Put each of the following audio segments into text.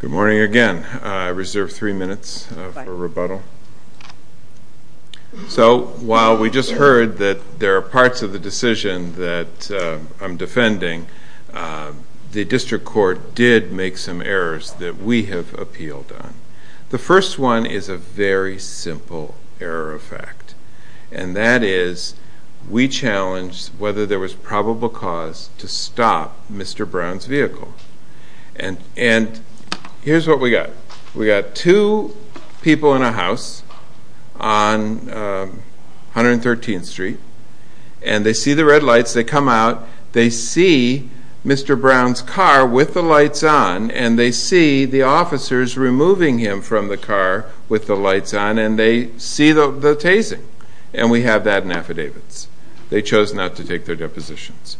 Good morning again. I reserve three minutes for rebuttal. So while we just heard that there are parts of the decision that I'm defending, the district court did make some errors that we have appealed on. The first one is a very simple error of fact, and that is we challenged whether there was probable cause to stop Mr. Brown's vehicle. And here's what we got. We got two people in a house on 113th Street, and they see the red lights, they come out, they see Mr. Brown's car with the lights on, and they see the officers removing him from the car with the lights on, and they see the tasing. And we have that in affidavits. They chose not to take their depositions.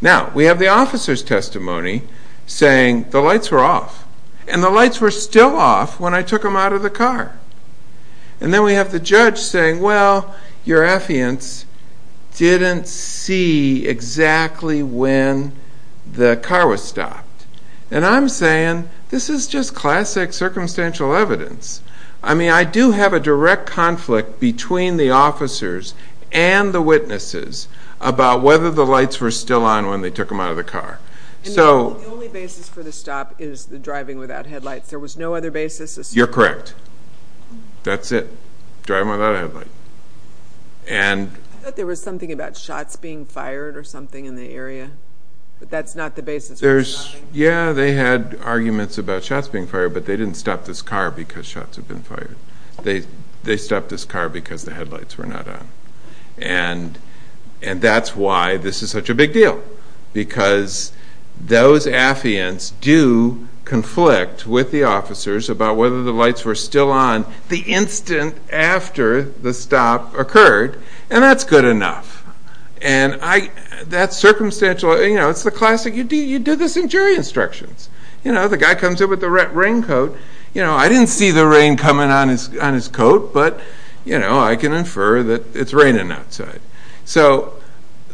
Now, we have the officer's testimony saying the lights were off, and the lights were still off when I took him out of the car. And then we have the judge saying, well, your affiants didn't see exactly when the car was stopped. And I'm saying, this is just classic circumstantial evidence. I mean, I do have a direct conflict between the officers and the witnesses about whether the lights were still on when they took him out of the car. And the only basis for the stop is the driving without headlights. There was no other basis? You're correct. That's it. Driving without a headlight. I thought there was something about shots being fired or something in the area. But that's not the basis. Yeah, they had arguments about shots being fired, but they didn't stop this car because shots had been fired. They stopped this car because the headlights were not on. And that's why this is such a big deal. Because those affiants do conflict with the officers about whether the lights were still on the instant after the stop occurred. And that's good enough. And that's circumstantial. It's the classic, you do this in jury instructions. You know, the guy comes in with the raincoat. I didn't see the rain coming on his coat, but I can infer that it's raining outside. So,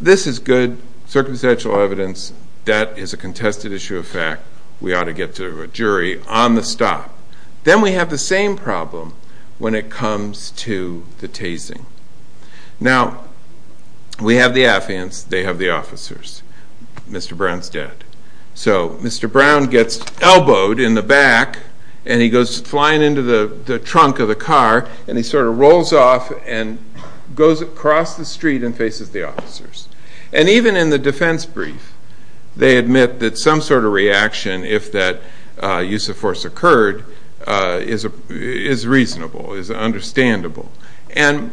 this is good circumstantial evidence. That is a contested issue of fact. We ought to get to a jury on the stop. Then we have the same problem when it comes to the tasing. Now, we have the affiants. They have the officers. Mr. Brown's dead. So, Mr. Brown gets elbowed in the back and he goes flying into the trunk of the car and he sort of rolls off and goes across the street and faces the officers. And even in the defense brief, they admit that some sort of reaction, if that use of force occurred, is reasonable, is understandable. And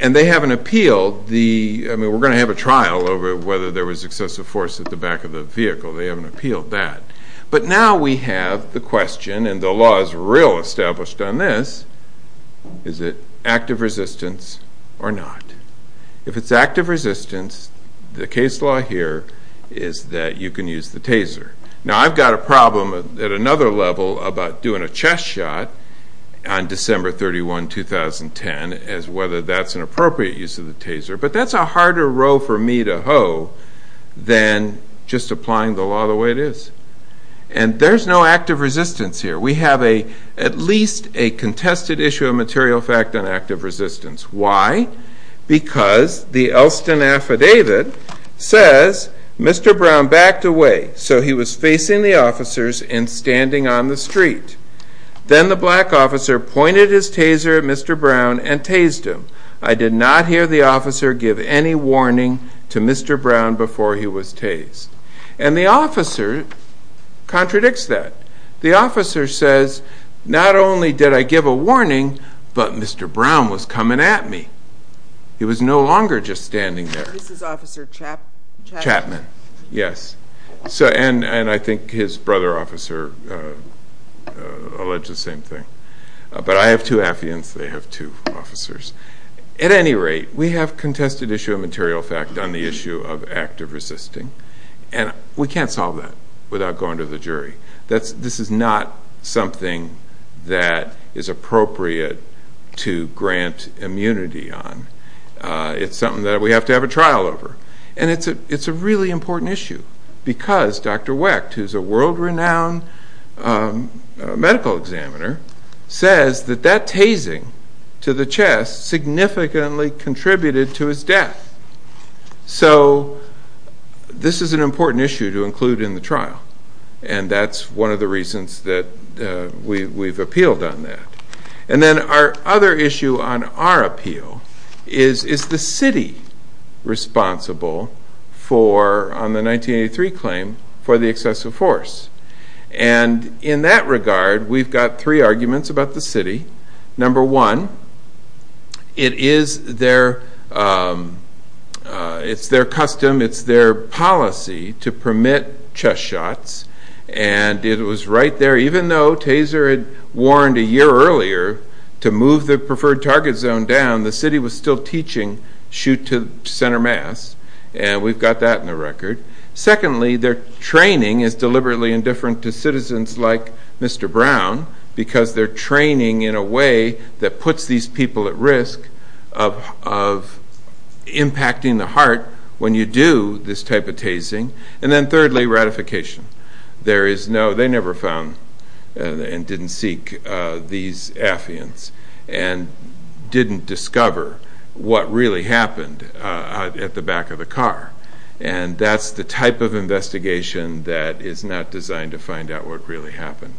they haven't appealed the, I mean, we're going to have a trial over whether there was excessive force at the back of the vehicle. They haven't appealed that. But now we have the question, and the law is real established on this, is it active resistance or not? If it's active resistance, the case law here is that you can use the taser. Now, I've got a problem at another level about doing a chest shot on December 31, 2010, as whether that's an appropriate use of the taser. But that's a harder row for me to hoe than just applying the law the way it is. And there's no active resistance here. We have at least a contested issue of material fact on active resistance. Why? Because the Elston Affidavit says, Mr. Brown backed away, so he was facing the officers and standing on the street. Then the black officer pointed his taser at Mr. Brown and tased him. I did not hear the officer give any warning to Mr. Brown before he was tased. And the officer contradicts that. The officer says, not only did I give a warning, but Mr. Brown was coming at me. He was no longer just standing there. This is Officer Chapman. Chapman, yes. And I think his brother officer alleged the same thing. But I have two affiants, they have two officers. At any rate, we have contested issue of material fact on the issue of active resisting. And we can't solve that without going to the jury. This is not something that is appropriate to grant immunity on. It's something that we have to have a trial over. And it's a really important issue because Dr. Wecht, who's a world-renowned medical examiner, says that that tasing to the chest significantly contributed to his death. So this is an important issue to include in the trial. And that's one of the reasons that we've appealed on that. And then our other issue on our appeal is, is the city responsible on the 1983 claim for the excessive force? And in that regard, we've got three arguments about the city. Number one, it is their custom, it's their policy to permit chest shots. And it was right there. Even though Taser had warned a year earlier to move the preferred target zone down, the city was still teaching shoot to center mass. And we've got that in the record. Secondly, their training is deliberately indifferent to citizens like Mr. Brown because their training in a way that puts these people at risk of impacting the heart when you do this type of tasing. And then thirdly, ratification. They never found and didn't seek these affiance and didn't discover what really happened at the back of the car. And that's the type of investigation that is not designed to find out what really happened.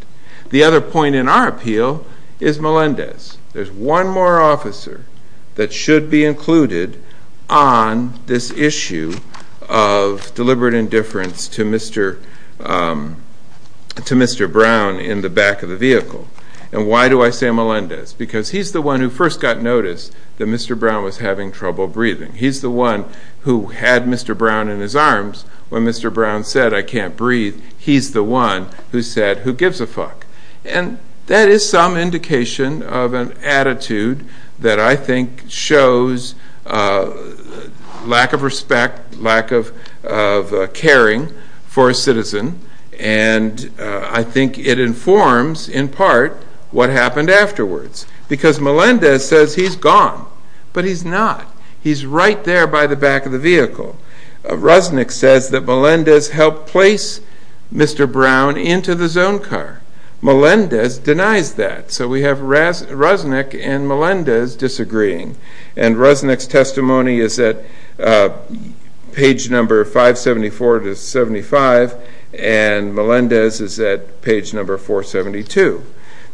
The other point in our appeal is Melendez. There's one more officer that should be included on this issue of deliberate indifference to Mr. Brown in the back of the vehicle. And why do I say Melendez? Because he's the one who first got noticed that Mr. Brown was having trouble breathing. He's the one who had Mr. Brown in his arms when Mr. Brown said, I can't breathe. He's the one who said, who gives a fuck? And that is some indication of an attitude that I think shows lack of respect, lack of caring for a citizen. And I think it informs in part what happened afterwards. Because Melendez says he's gone. But he's not. He's right there by the back of the vehicle. Rosnick says that Melendez helped place Mr. Brown into the zone car. Melendez denies that. So we have Rosnick and Melendez disagreeing. And Rosnick's testimony is at page number 574 to 75. And Melendez is at page number 472.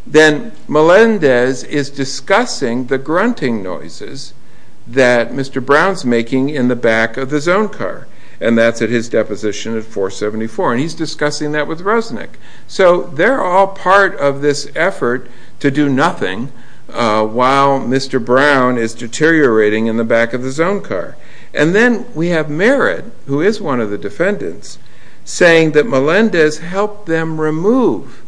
Then Melendez is discussing the grunting noises that Mr. Brown's making in the back of the zone car. And that's at his deposition at 474. And he's discussing that with Rosnick. So they're all part of this effort to do nothing while Mr. Brown is deteriorating in the back of the zone car. And then we have Merritt, who is one of the defendants, saying that Melendez helped them remove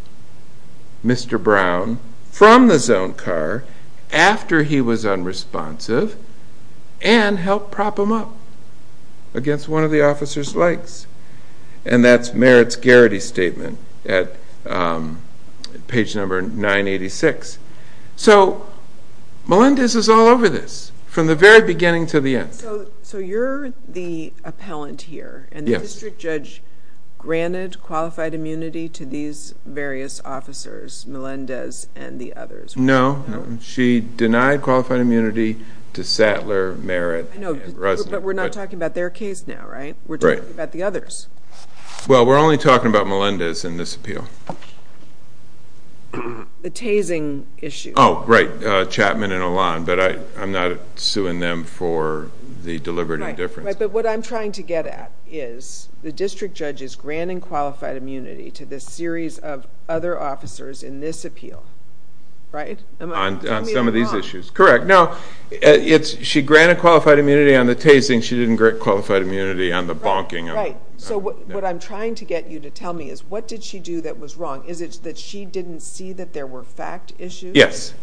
Mr. Brown from the zone car after he was unresponsive and helped prop him up against one of the officer's legs. And that's Merritt's Garrity Statement at page number 986. So Melendez is all over this from the very beginning to the end. So you're the appellant here. And the district judge granted qualified immunity to these various officers, Melendez and the others. No. She denied qualified immunity to Sattler, Merritt, and Rosnick. But we're not talking about their case now, right? We're talking about the others. Well, we're only talking about Melendez in this appeal. The tasing issue. Oh, right. Chapman and Alon. But I'm not suing them for the deliberate indifference. Right. But what I'm trying to get at is the district judge has granted qualified immunity to this series of other officers in this appeal, right? On some of these issues. Correct. No. She granted qualified immunity on the tasing. She didn't grant qualified immunity on the bonking. Right. So what I'm trying to get you to tell me is what did she do that was wrong? Is it that she didn't see that there were fact issues? Yes.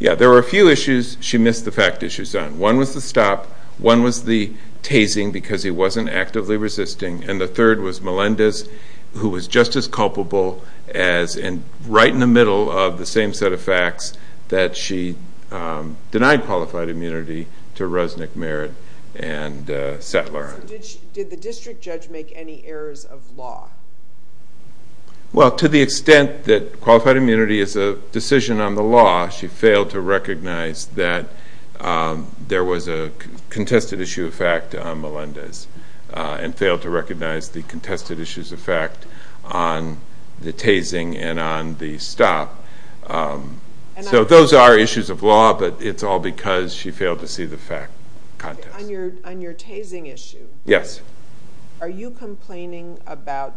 Yeah, there were a few issues she missed the fact issues on. One was the stop. One was the tasing because he wasn't actively resisting. And the third was Melendez, who was just as culpable as right in the middle of the same set of facts that she denied qualified immunity to Rosnick, Merritt, and Sattler. Did the district judge make any errors of law? Well, to the extent that qualified immunity is a decision on the law, she failed to recognize that there was a contested issue of fact on Melendez and failed to recognize the contested issues of fact on the tasing and on the stop. So those are issues of law, but it's all because she failed to see the fact contest. On your tasing issue, are you complaining about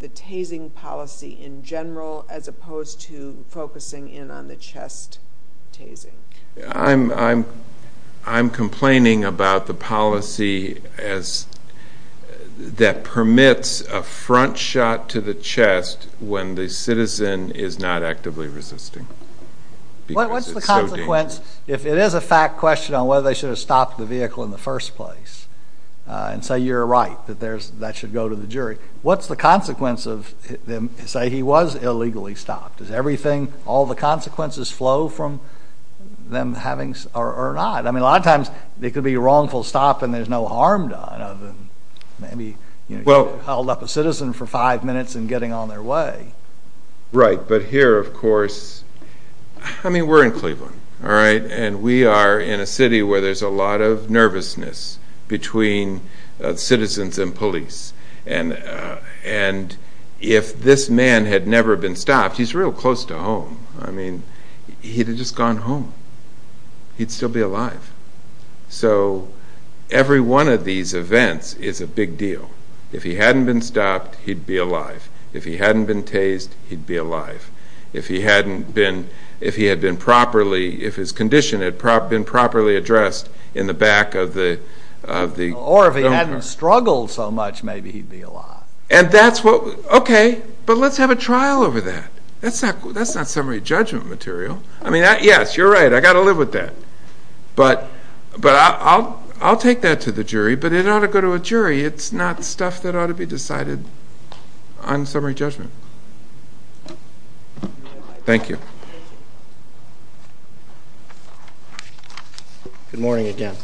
the tasing policy in general as opposed to focusing in on the chest tasing? I'm complaining about the policy that permits a front shot to the chest when the citizen is not actively resisting. If it is a fact question on whether they should have stopped the vehicle in the first place and say you're right, that should go to the jury, what's the consequence of them saying he was illegally stopped? Does all the consequences flow from them having or not? I mean, a lot of times it could be a wrongful stop and there's no harm done other than maybe you held up a citizen for five minutes and getting on their way. Right, but here, of course, we're in Cleveland, and we are in a city where there's a lot of nervousness between citizens and police. And if this man had never been stopped, he's real close to home. He'd have just gone home. He'd still be alive. So every one of these events is a big deal. If he hadn't been stopped, he'd be alive. If he hadn't been tased, he'd be alive. If his condition had been properly addressed in the back of the film crew. Or if he hadn't struggled so much, maybe he'd be alive. Okay, but let's have a trial over that. That's not summary judgment material. I mean, yes, you're right, I've got to live with that. But I'll take that to the jury, but it ought to go to a jury. It's not stuff that ought to be decided on summary judgment. Thank you. Good morning again.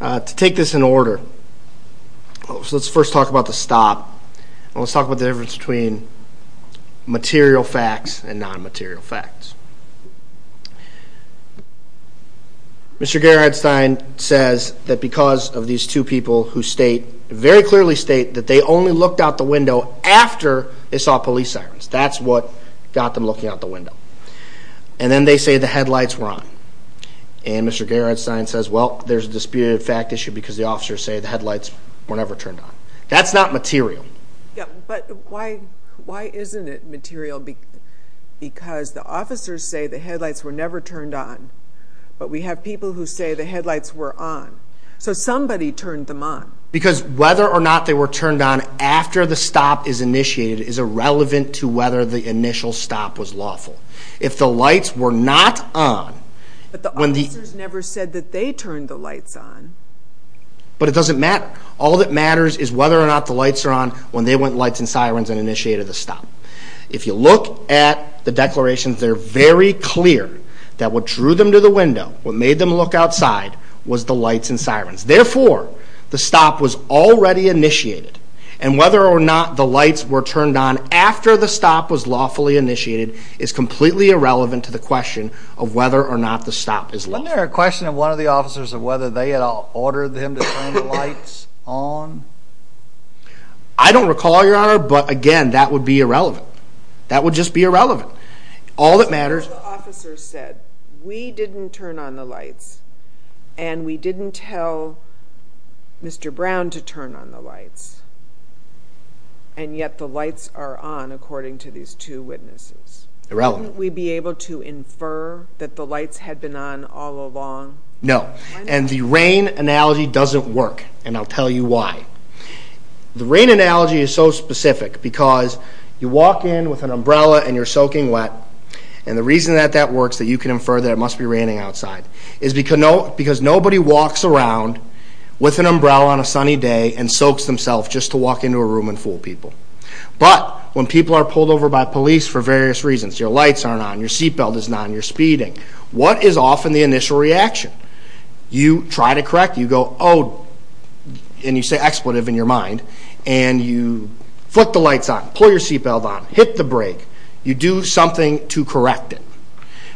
To take this in order, let's first talk about the stop, and let's talk about the difference between material facts and non-material facts. Mr. Gerenstein says that because of these two people who state, very clearly state, that they only looked out the window after they saw police sirens. That's what got them looking out the window. And then they say the headlights were on. And Mr. Gerenstein says, well, there's a disputed fact issue because the officers say the headlights were never turned on. That's not material. But why isn't it material? Because the officers say the headlights were never turned on, but we have people who say the headlights were on. So somebody turned them on. Because whether or not they were turned on after the stop is initiated is irrelevant to whether the initial stop was lawful. If the lights were not on, when the— But the officers never said that they turned the lights on. But it doesn't matter. All that matters is whether or not the lights are on when they went lights and sirens and initiated the stop. If you look at the declarations, they're very clear that what drew them to the window, what made them look outside, was the lights and sirens. Therefore, the stop was already initiated. And whether or not the lights were turned on after the stop was lawfully initiated is completely irrelevant to the question of whether or not the stop is lawful. Wasn't there a question of one of the officers of whether they had ordered them to turn the lights on? I don't recall, Your Honor, but again, that would be irrelevant. That would just be irrelevant. All that matters— The officer said, we didn't turn on the lights, and we didn't tell Mr. Brown to turn on the lights, and yet the lights are on, according to these two witnesses. Irrelevant. Wouldn't we be able to infer that the lights had been on all along? No. And the rain analogy doesn't work, and I'll tell you why. The rain analogy is so specific because you walk in with an umbrella and you're soaking wet, and the reason that that works, that you can infer that it must be raining outside, is because nobody walks around with an umbrella on a sunny day and soaks themselves just to walk into a room and fool people. But when people are pulled over by police for various reasons— your lights aren't on, your seatbelt isn't on, you're speeding— what is often the initial reaction? You try to correct. You go, oh, and you say, expletive in your mind, and you flick the lights on, pull your seatbelt on, hit the brake. You do something to correct it.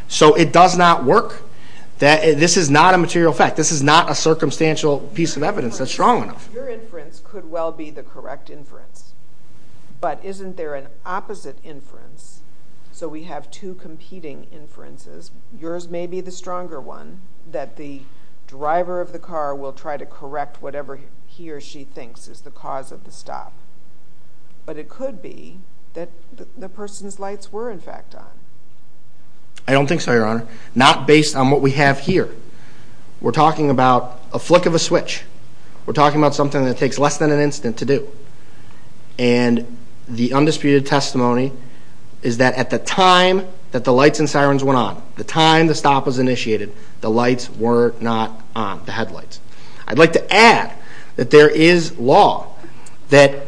So it does not work. This is not a material fact. This is not a circumstantial piece of evidence that's strong enough. Your inference could well be the correct inference, but isn't there an opposite inference? So we have two competing inferences. Yours may be the stronger one, that the driver of the car will try to correct whatever he or she thinks is the cause of the stop. But it could be that the person's lights were in fact on. I don't think so, Your Honor. Not based on what we have here. We're talking about a flick of a switch. We're talking about something that takes less than an instant to do. And the undisputed testimony is that at the time that the lights and sirens went on, the time the stop was initiated, the lights were not on, the headlights. I'd like to add that there is law that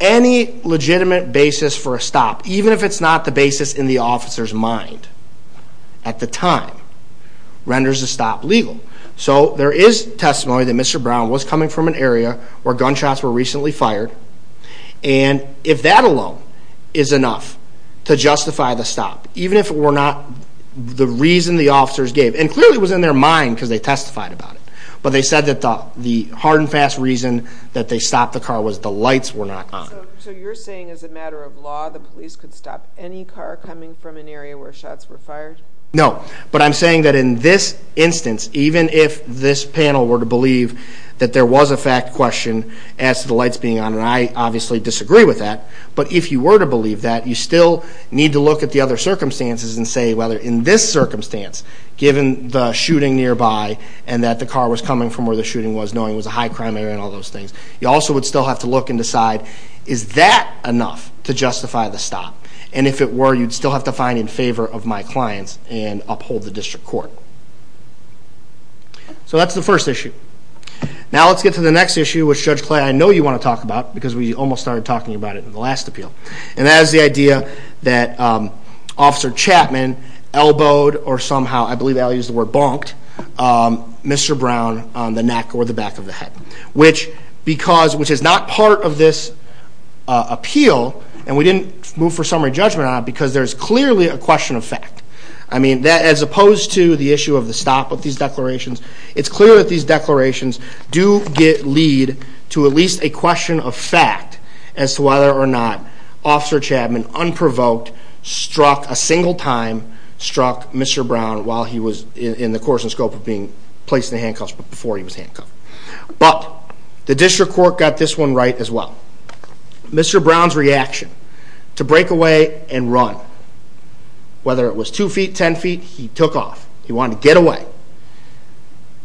any legitimate basis for a stop, even if it's not the basis in the officer's mind at the time, renders the stop legal. So there is testimony that Mr. Brown was coming from an area where gunshots were recently fired. And if that alone is enough to justify the stop, even if it were not the reason the officers gave, and clearly it was in their mind because they testified about it, but they said that the hard and fast reason that they stopped the car was the lights were not on. So you're saying as a matter of law the police could stop any car coming from an area where shots were fired? No. But I'm saying that in this instance, even if this panel were to believe that there was a fact question as to the lights being on, and I obviously disagree with that, but if you were to believe that, you still need to look at the other circumstances and say whether in this circumstance, given the shooting nearby and that the car was coming from where the shooting was, knowing it was a high crime area and all those things, you also would still have to look and decide, is that enough to justify the stop? And if it were, you'd still have to find in favor of my clients and uphold the district court. So that's the first issue. Now let's get to the next issue, which, Judge Clay, I know you want to talk about, because we almost started talking about it in the last appeal, and that is the idea that Officer Chapman elbowed or somehow, I believe that is the word, bonked Mr. Brown on the neck or the back of the head, which is not part of this appeal, and we didn't move for summary judgment on it because there is clearly a question of fact. As opposed to the issue of the stop of these declarations, it's clear that these declarations do lead to at least a question of fact as to whether or not Officer Chapman, unprovoked, struck a single time, struck Mr. Brown while he was in the course and scope of being placed in the handcuffs before he was handcuffed. But the district court got this one right as well. Mr. Brown's reaction to break away and run, whether it was 2 feet, 10 feet, he took off. He wanted to get away.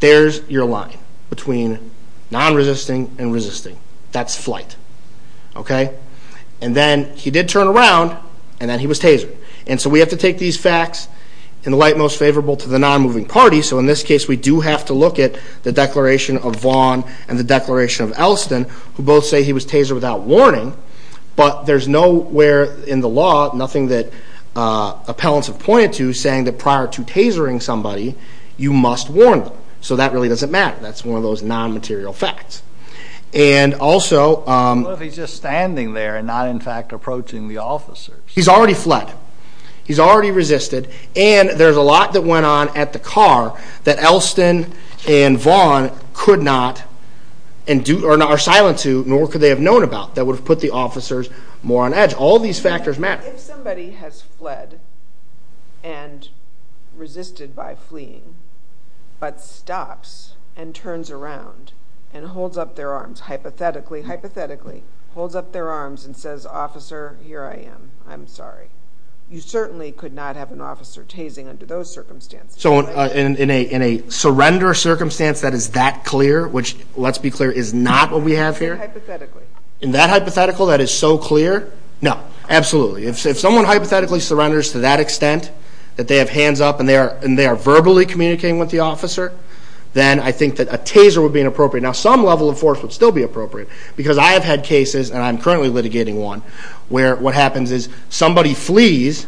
There's your line between non-resisting and resisting. That's flight. And then he did turn around, and then he was tasered. And so we have to take these facts in the light most favorable to the non-moving party, so in this case we do have to look at the declaration of Vaughn and the declaration of Elston, who both say he was tasered without warning, but there's nowhere in the law, nothing that appellants have pointed to, saying that prior to tasering somebody, you must warn them. So that really doesn't matter. That's one of those non-material facts. And also... What if he's just standing there and not in fact approaching the officers? He's already fled. He's already resisted. And there's a lot that went on at the car that Elston and Vaughn could not... are silent to, nor could they have known about, that would have put the officers more on edge. All these factors matter. If somebody has fled and resisted by fleeing, but stops and turns around and holds up their arms, hypothetically, holds up their arms and says, Officer, here I am, I'm sorry, you certainly could not have an officer tasing under those circumstances. So in a surrender circumstance that is that clear, which, let's be clear, is not what we have here? Hypothetically. In that hypothetical that is so clear? No, absolutely. If someone hypothetically surrenders to that extent, that they have hands up and they are verbally communicating with the officer, then I think that a taser would be inappropriate. Now, some level of force would still be appropriate because I have had cases, and I'm currently litigating one, where what happens is somebody flees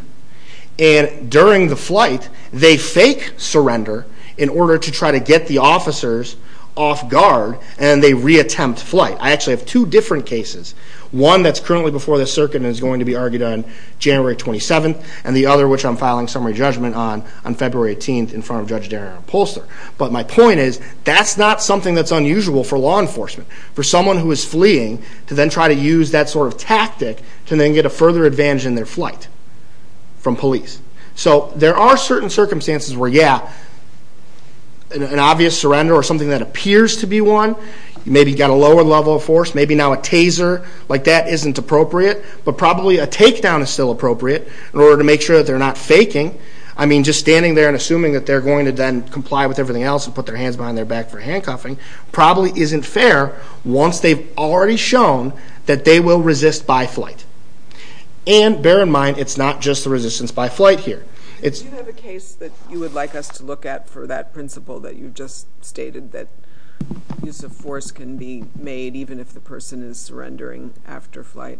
and during the flight they fake surrender in order to try to get the officers off guard and they reattempt flight. I actually have two different cases. One that's currently before the circuit and is going to be argued on January 27th and the other which I'm filing summary judgment on on February 18th in front of Judge Darren Upholster. But my point is, that's not something that's unusual for law enforcement. For someone who is fleeing to then try to use that sort of tactic to then get a further advantage in their flight from police. So there are certain circumstances where, yeah, an obvious surrender or something that appears to be one, maybe you've got a lower level of force, maybe now a taser like that isn't appropriate, but probably a takedown is still appropriate in order to make sure that they're not faking. I mean, just standing there and assuming that they're going to then comply with everything else and put their hands behind their back for handcuffing probably isn't fair once they've already shown that they will resist by flight. And bear in mind, it's not just the resistance by flight here. Do you have a case that you would like us to look at for that principle that you just stated that use of force can be made even if the person is surrendering after flight?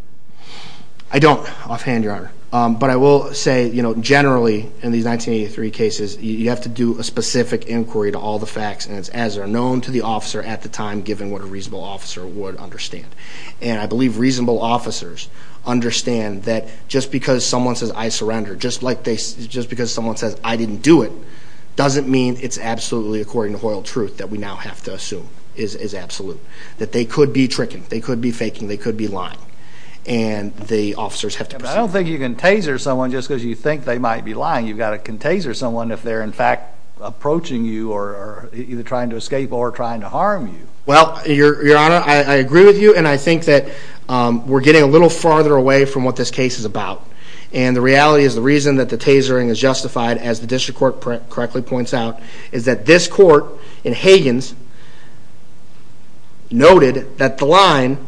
I don't, offhand, Your Honor. But I will say, generally, in these 1983 cases, you have to do a specific inquiry to all the facts, and it's as they're known to the officer at the time, given what a reasonable officer would understand. And I believe reasonable officers understand that just because someone says, I surrender, just because someone says, I didn't do it, doesn't mean it's absolutely according to royal truth that we now have to assume is absolute, that they could be tricking, they could be faking, they could be lying, and the officers have to proceed. But I don't think you can taser someone just because you think they might be lying. You've got to can taser someone if they're, in fact, approaching you or either trying to escape or trying to harm you. Well, Your Honor, I agree with you, and I think that we're getting a little farther away from what this case is about. And the reality is the reason that the tasering is justified, as the district court correctly points out, is that this court, in Higgins, noted that the line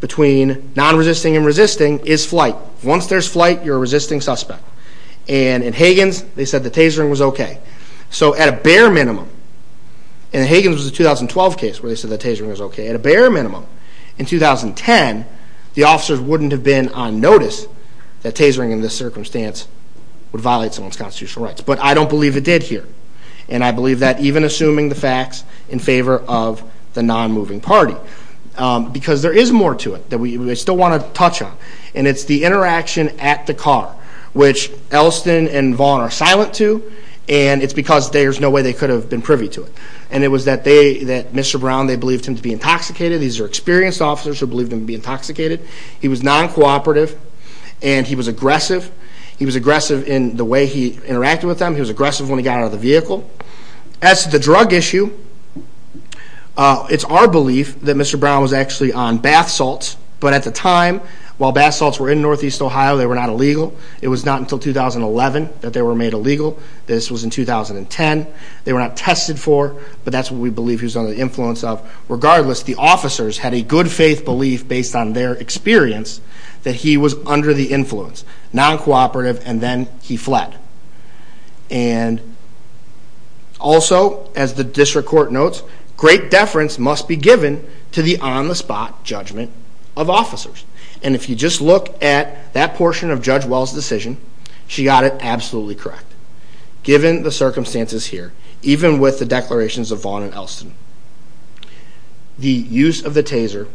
between non-resisting and resisting is flight. Once there's flight, you're a resisting suspect. And in Higgins, they said the tasering was okay. So at a bare minimum, and Higgins was a 2012 case where they said the tasering was okay. At a bare minimum, in 2010, the officers wouldn't have been on notice that tasering in this circumstance would violate someone's constitutional rights. But I don't believe it did here. And I believe that even assuming the facts in favor of the non-moving party. Because there is more to it that we still want to touch on, and it's the interaction at the car, which Elston and Vaughn are silent to, and it's because there's no way they could have been privy to it. And it was that Mr. Brown, they believed him to be intoxicated. These are experienced officers who believed him to be intoxicated. He was non-cooperative, and he was aggressive. He was aggressive in the way he interacted with them. He was aggressive when he got out of the vehicle. As to the drug issue, it's our belief that Mr. Brown was actually on bath salts. But at the time, while bath salts were in northeast Ohio, they were not illegal. It was not until 2011 that they were made illegal. This was in 2010. They were not tested for, but that's what we believe he was under the influence of. Regardless, the officers had a good-faith belief, based on their experience, that he was under the influence, non-cooperative, and then he fled. And also, as the district court notes, great deference must be given to the on-the-spot judgment of officers. And if you just look at that portion of Judge Well's decision, she got it absolutely correct, given the circumstances here, even with the declarations of Vaughn and Elston. The use of the taser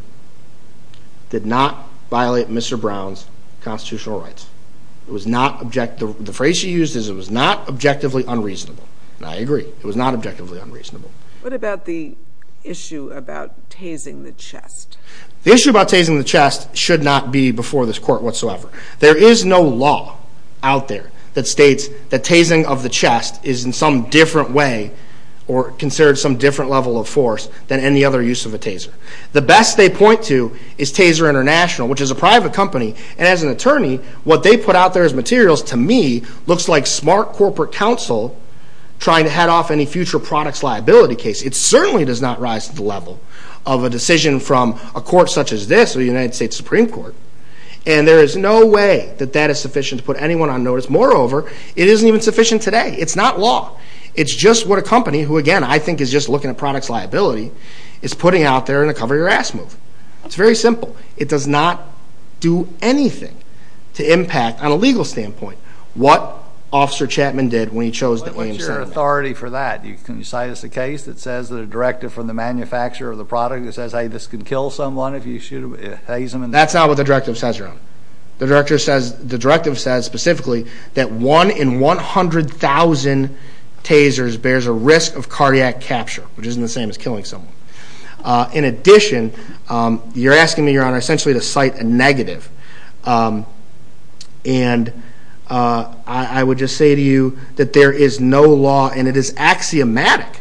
did not violate Mr. Brown's constitutional rights. The phrase she used is, it was not objectively unreasonable. And I agree. It was not objectively unreasonable. What about the issue about tasing the chest? The issue about tasing the chest should not be before this court whatsoever. There is no law out there that states that tasing of the chest is in some different way, or considered some different level of force, than any other use of a taser. The best they point to is Taser International, which is a private company. And as an attorney, what they put out there as materials, to me, looks like smart corporate counsel trying to head off any future products liability case. It certainly does not rise to the level of a decision from a court such as this, or the United States Supreme Court. And there is no way that that is sufficient to put anyone on notice. Moreover, it isn't even sufficient today. It's not law. It's just what a company, who, again, I think is just looking at products liability, is putting out there in a cover-your-ass move. It's very simple. It does not do anything to impact, on a legal standpoint, what Officer Chapman did when he chose the AMC. What's your authority for that? Can you cite us a case that says that a directive from the manufacturer of the product that says, hey, this could kill someone That's not what the directive says, Your Honor. The directive says, specifically, that one in 100,000 tasers bears a risk of cardiac capture, which isn't the same as killing someone. In addition, you're asking me, Your Honor, essentially to cite a negative. And I would just say to you that there is no law, and it is axiomatic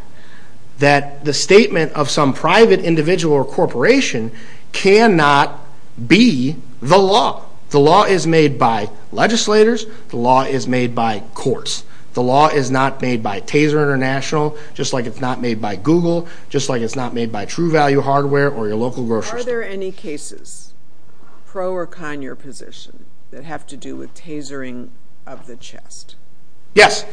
that the statement of some private individual or corporation cannot be the law. The law is made by legislators. The law is made by courts. The law is not made by Taser International, just like it's not made by Google, just like it's not made by True Value Hardware or your local grocery store. Are there any cases, pro or con your position, that have to do with tasering of the chest? Yes.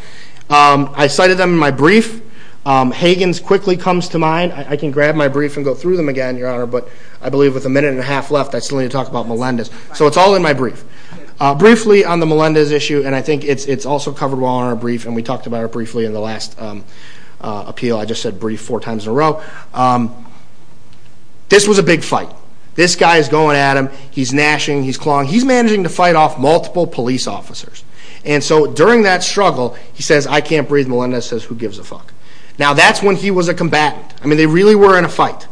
I cited them in my brief. Hagen's quickly comes to mind. I can grab my brief and go through them again, Your Honor, but I believe with a minute and a half left, I still need to talk about Melendez. So it's all in my brief. Briefly on the Melendez issue, and I think it's also covered well in our brief, and we talked about it briefly in the last appeal. I just said brief four times in a row. This was a big fight. This guy is going at him. He's gnashing, he's clawing. He's managing to fight off multiple police officers. And so during that struggle, he says, I can't breathe. Melendez says, who gives a fuck? Now that's when he was a combatant. I mean, they really were in a fight.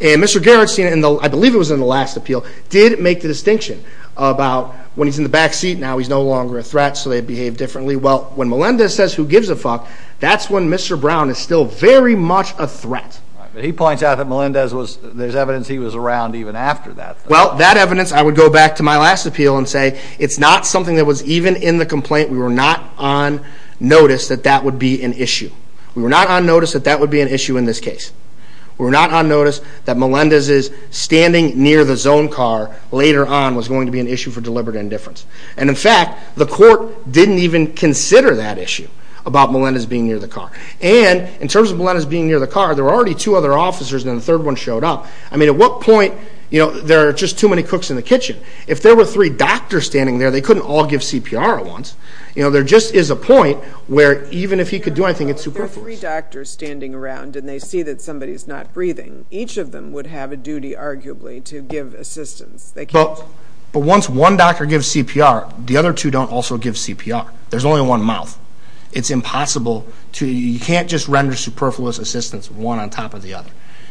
And Mr. Gerardstein, I believe it was in the last appeal, did make the distinction about, when he's in the back seat now, he's no longer a threat, so they behave differently. Well, when Melendez says, who gives a fuck, that's when Mr. Brown is still very much a threat. But he points out that Melendez was, there's evidence he was around even after that. Well, that evidence, I would go back to my last appeal and say, it's not something that was even in the complaint. We were not on notice that that would be an issue. We were not on notice that that would be an issue in this case. We were not on notice that Melendez is standing near the zone car later on was going to be an issue for deliberate indifference. And in fact, the court didn't even consider that issue about Melendez being near the car. And in terms of Melendez being near the car, there were already two other officers, and then the third one showed up. I mean, at what point, there are just too many cooks in the kitchen. If there were three doctors standing there, they couldn't all give CPR at once. There just is a point where even if he could do anything, it's superfluous. If there are three doctors standing around and they see that somebody's not breathing, each of them would have a duty, arguably, to give assistance. But once one doctor gives CPR, the other two don't also give CPR. There's only one mouth. It's impossible to... You can't just render superfluous assistance one on top of the other.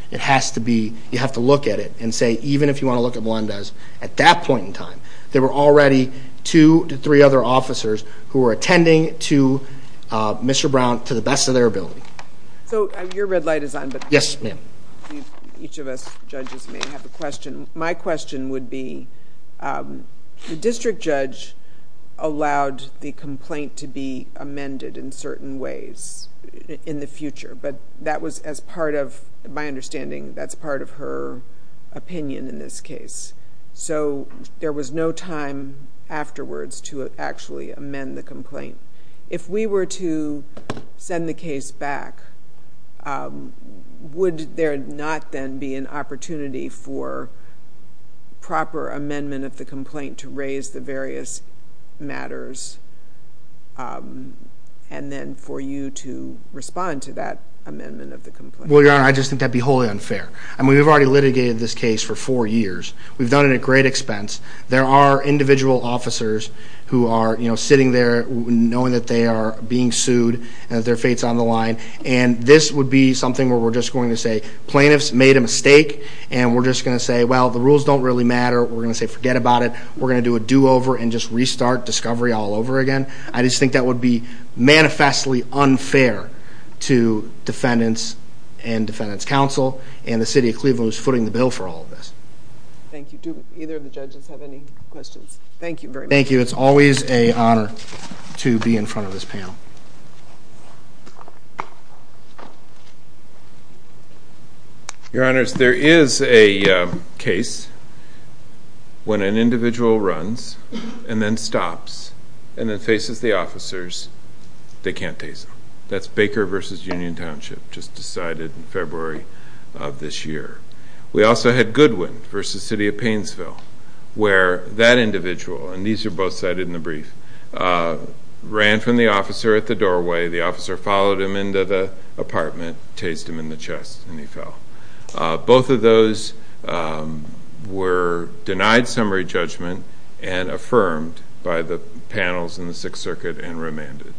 It has to be... You have to look at it and say, even if you want to look at Melendez, at that point in time, there were already two to three other officers So your red light is on. Yes, ma'am. Each of us judges may have a question. My question would be, the district judge allowed the complaint to be amended in certain ways in the future, but that was as part of, my understanding, that's part of her opinion in this case. So there was no time afterwards to actually amend the complaint. If we were to send the case back, would there not then be an opportunity for proper amendment of the complaint to raise the various matters and then for you to respond to that amendment of the complaint? Well, Your Honor, I just think that'd be wholly unfair. I mean, we've already litigated this case for four years. We've done it at great expense. There are individual officers who are sitting there knowing that they are being sued and that their fate's on the line, and this would be something where we're just going to say, plaintiffs made a mistake, and we're just going to say, well, the rules don't really matter. We're going to say forget about it. We're going to do a do-over and just restart discovery all over again. I just think that would be manifestly unfair to defendants and defendants' counsel and the City of Cleveland who's footing the bill for all of this. Thank you. Do either of the judges have any questions? Thank you very much. Thank you. It's always an honor to be in front of this panel. Your Honors, there is a case when an individual runs and then stops and then faces the officers. They can't tase him. That's Baker v. Union Township, just decided in February of this year. We also had Goodwin v. City of Painesville, where that individual, and these are both cited in the brief, ran from the officer at the doorway. The officer followed him into the apartment, tased him in the chest, and he fell. Both of those were denied summary judgment and affirmed by the panels in the Sixth Circuit and remanded.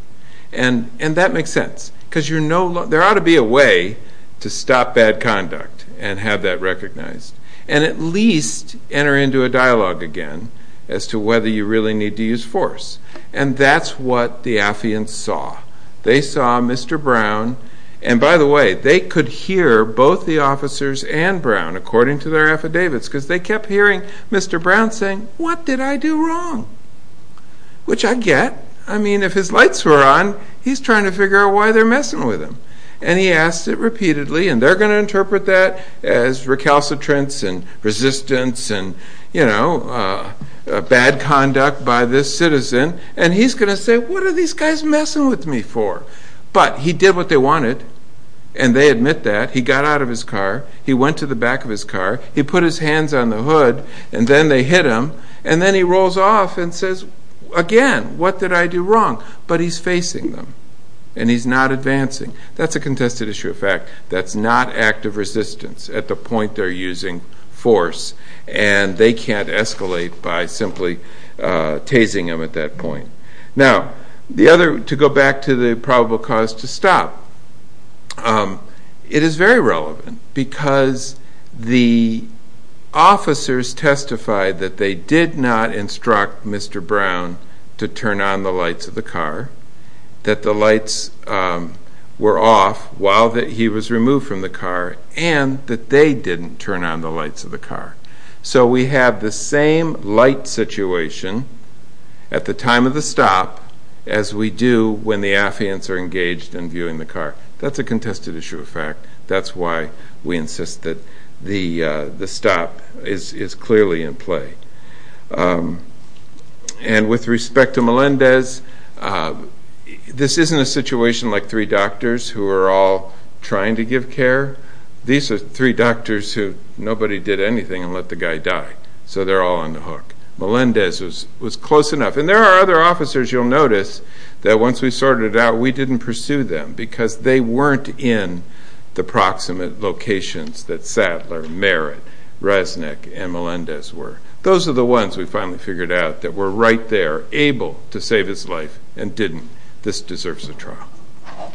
And that makes sense, because there ought to be a way to stop bad conduct and have that recognized and at least enter into a dialogue again as to whether you really need to use force. And that's what the affiants saw. They saw Mr. Brown. And by the way, they could hear both the officers and Brown according to their affidavits, because they kept hearing Mr. Brown saying, What did I do wrong? Which I get. I mean, if his lights were on, he's trying to figure out why they're messing with him. And he asked it repeatedly, and they're going to interpret that as recalcitrance and resistance and, you know, bad conduct by this citizen. And he's going to say, What are these guys messing with me for? But he did what they wanted, and they admit that. He got out of his car. He went to the back of his car. He put his hands on the hood, and then they hit him. And then he rolls off and says, Again, what did I do wrong? But he's facing them, and he's not advancing. That's a contested issue of fact. That's not active resistance at the point they're using force. And they can't escalate by simply tasing him at that point. Now, to go back to the probable cause to stop, it is very relevant because the officers testified that they did not instruct Mr. Brown to turn on the lights of the car, that the lights were off while he was removed from the car, and that they didn't turn on the lights of the car. So we have the same light situation at the time of the stop as we do when the affiants are engaged and viewing the car. That's a contested issue of fact. That's why we insist that the stop is clearly in play. And with respect to Melendez, this isn't a situation like three doctors who are all trying to give care. These are three doctors who nobody did anything and let the guy die, so they're all on the hook. Melendez was close enough. And there are other officers you'll notice that once we sorted it out, we didn't pursue them because they weren't in the proximate locations that Sadler, Merritt, Resnick, and Melendez were. Those are the ones we finally figured out that were right there, able to save his life, and didn't. This deserves a trial.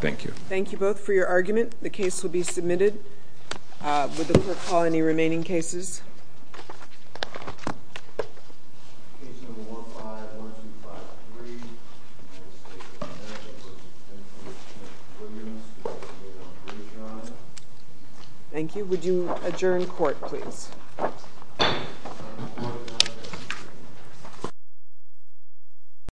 Thank you. Thank you both for your argument. The case will be submitted. Would the court call any remaining cases? Would you adjourn court, please?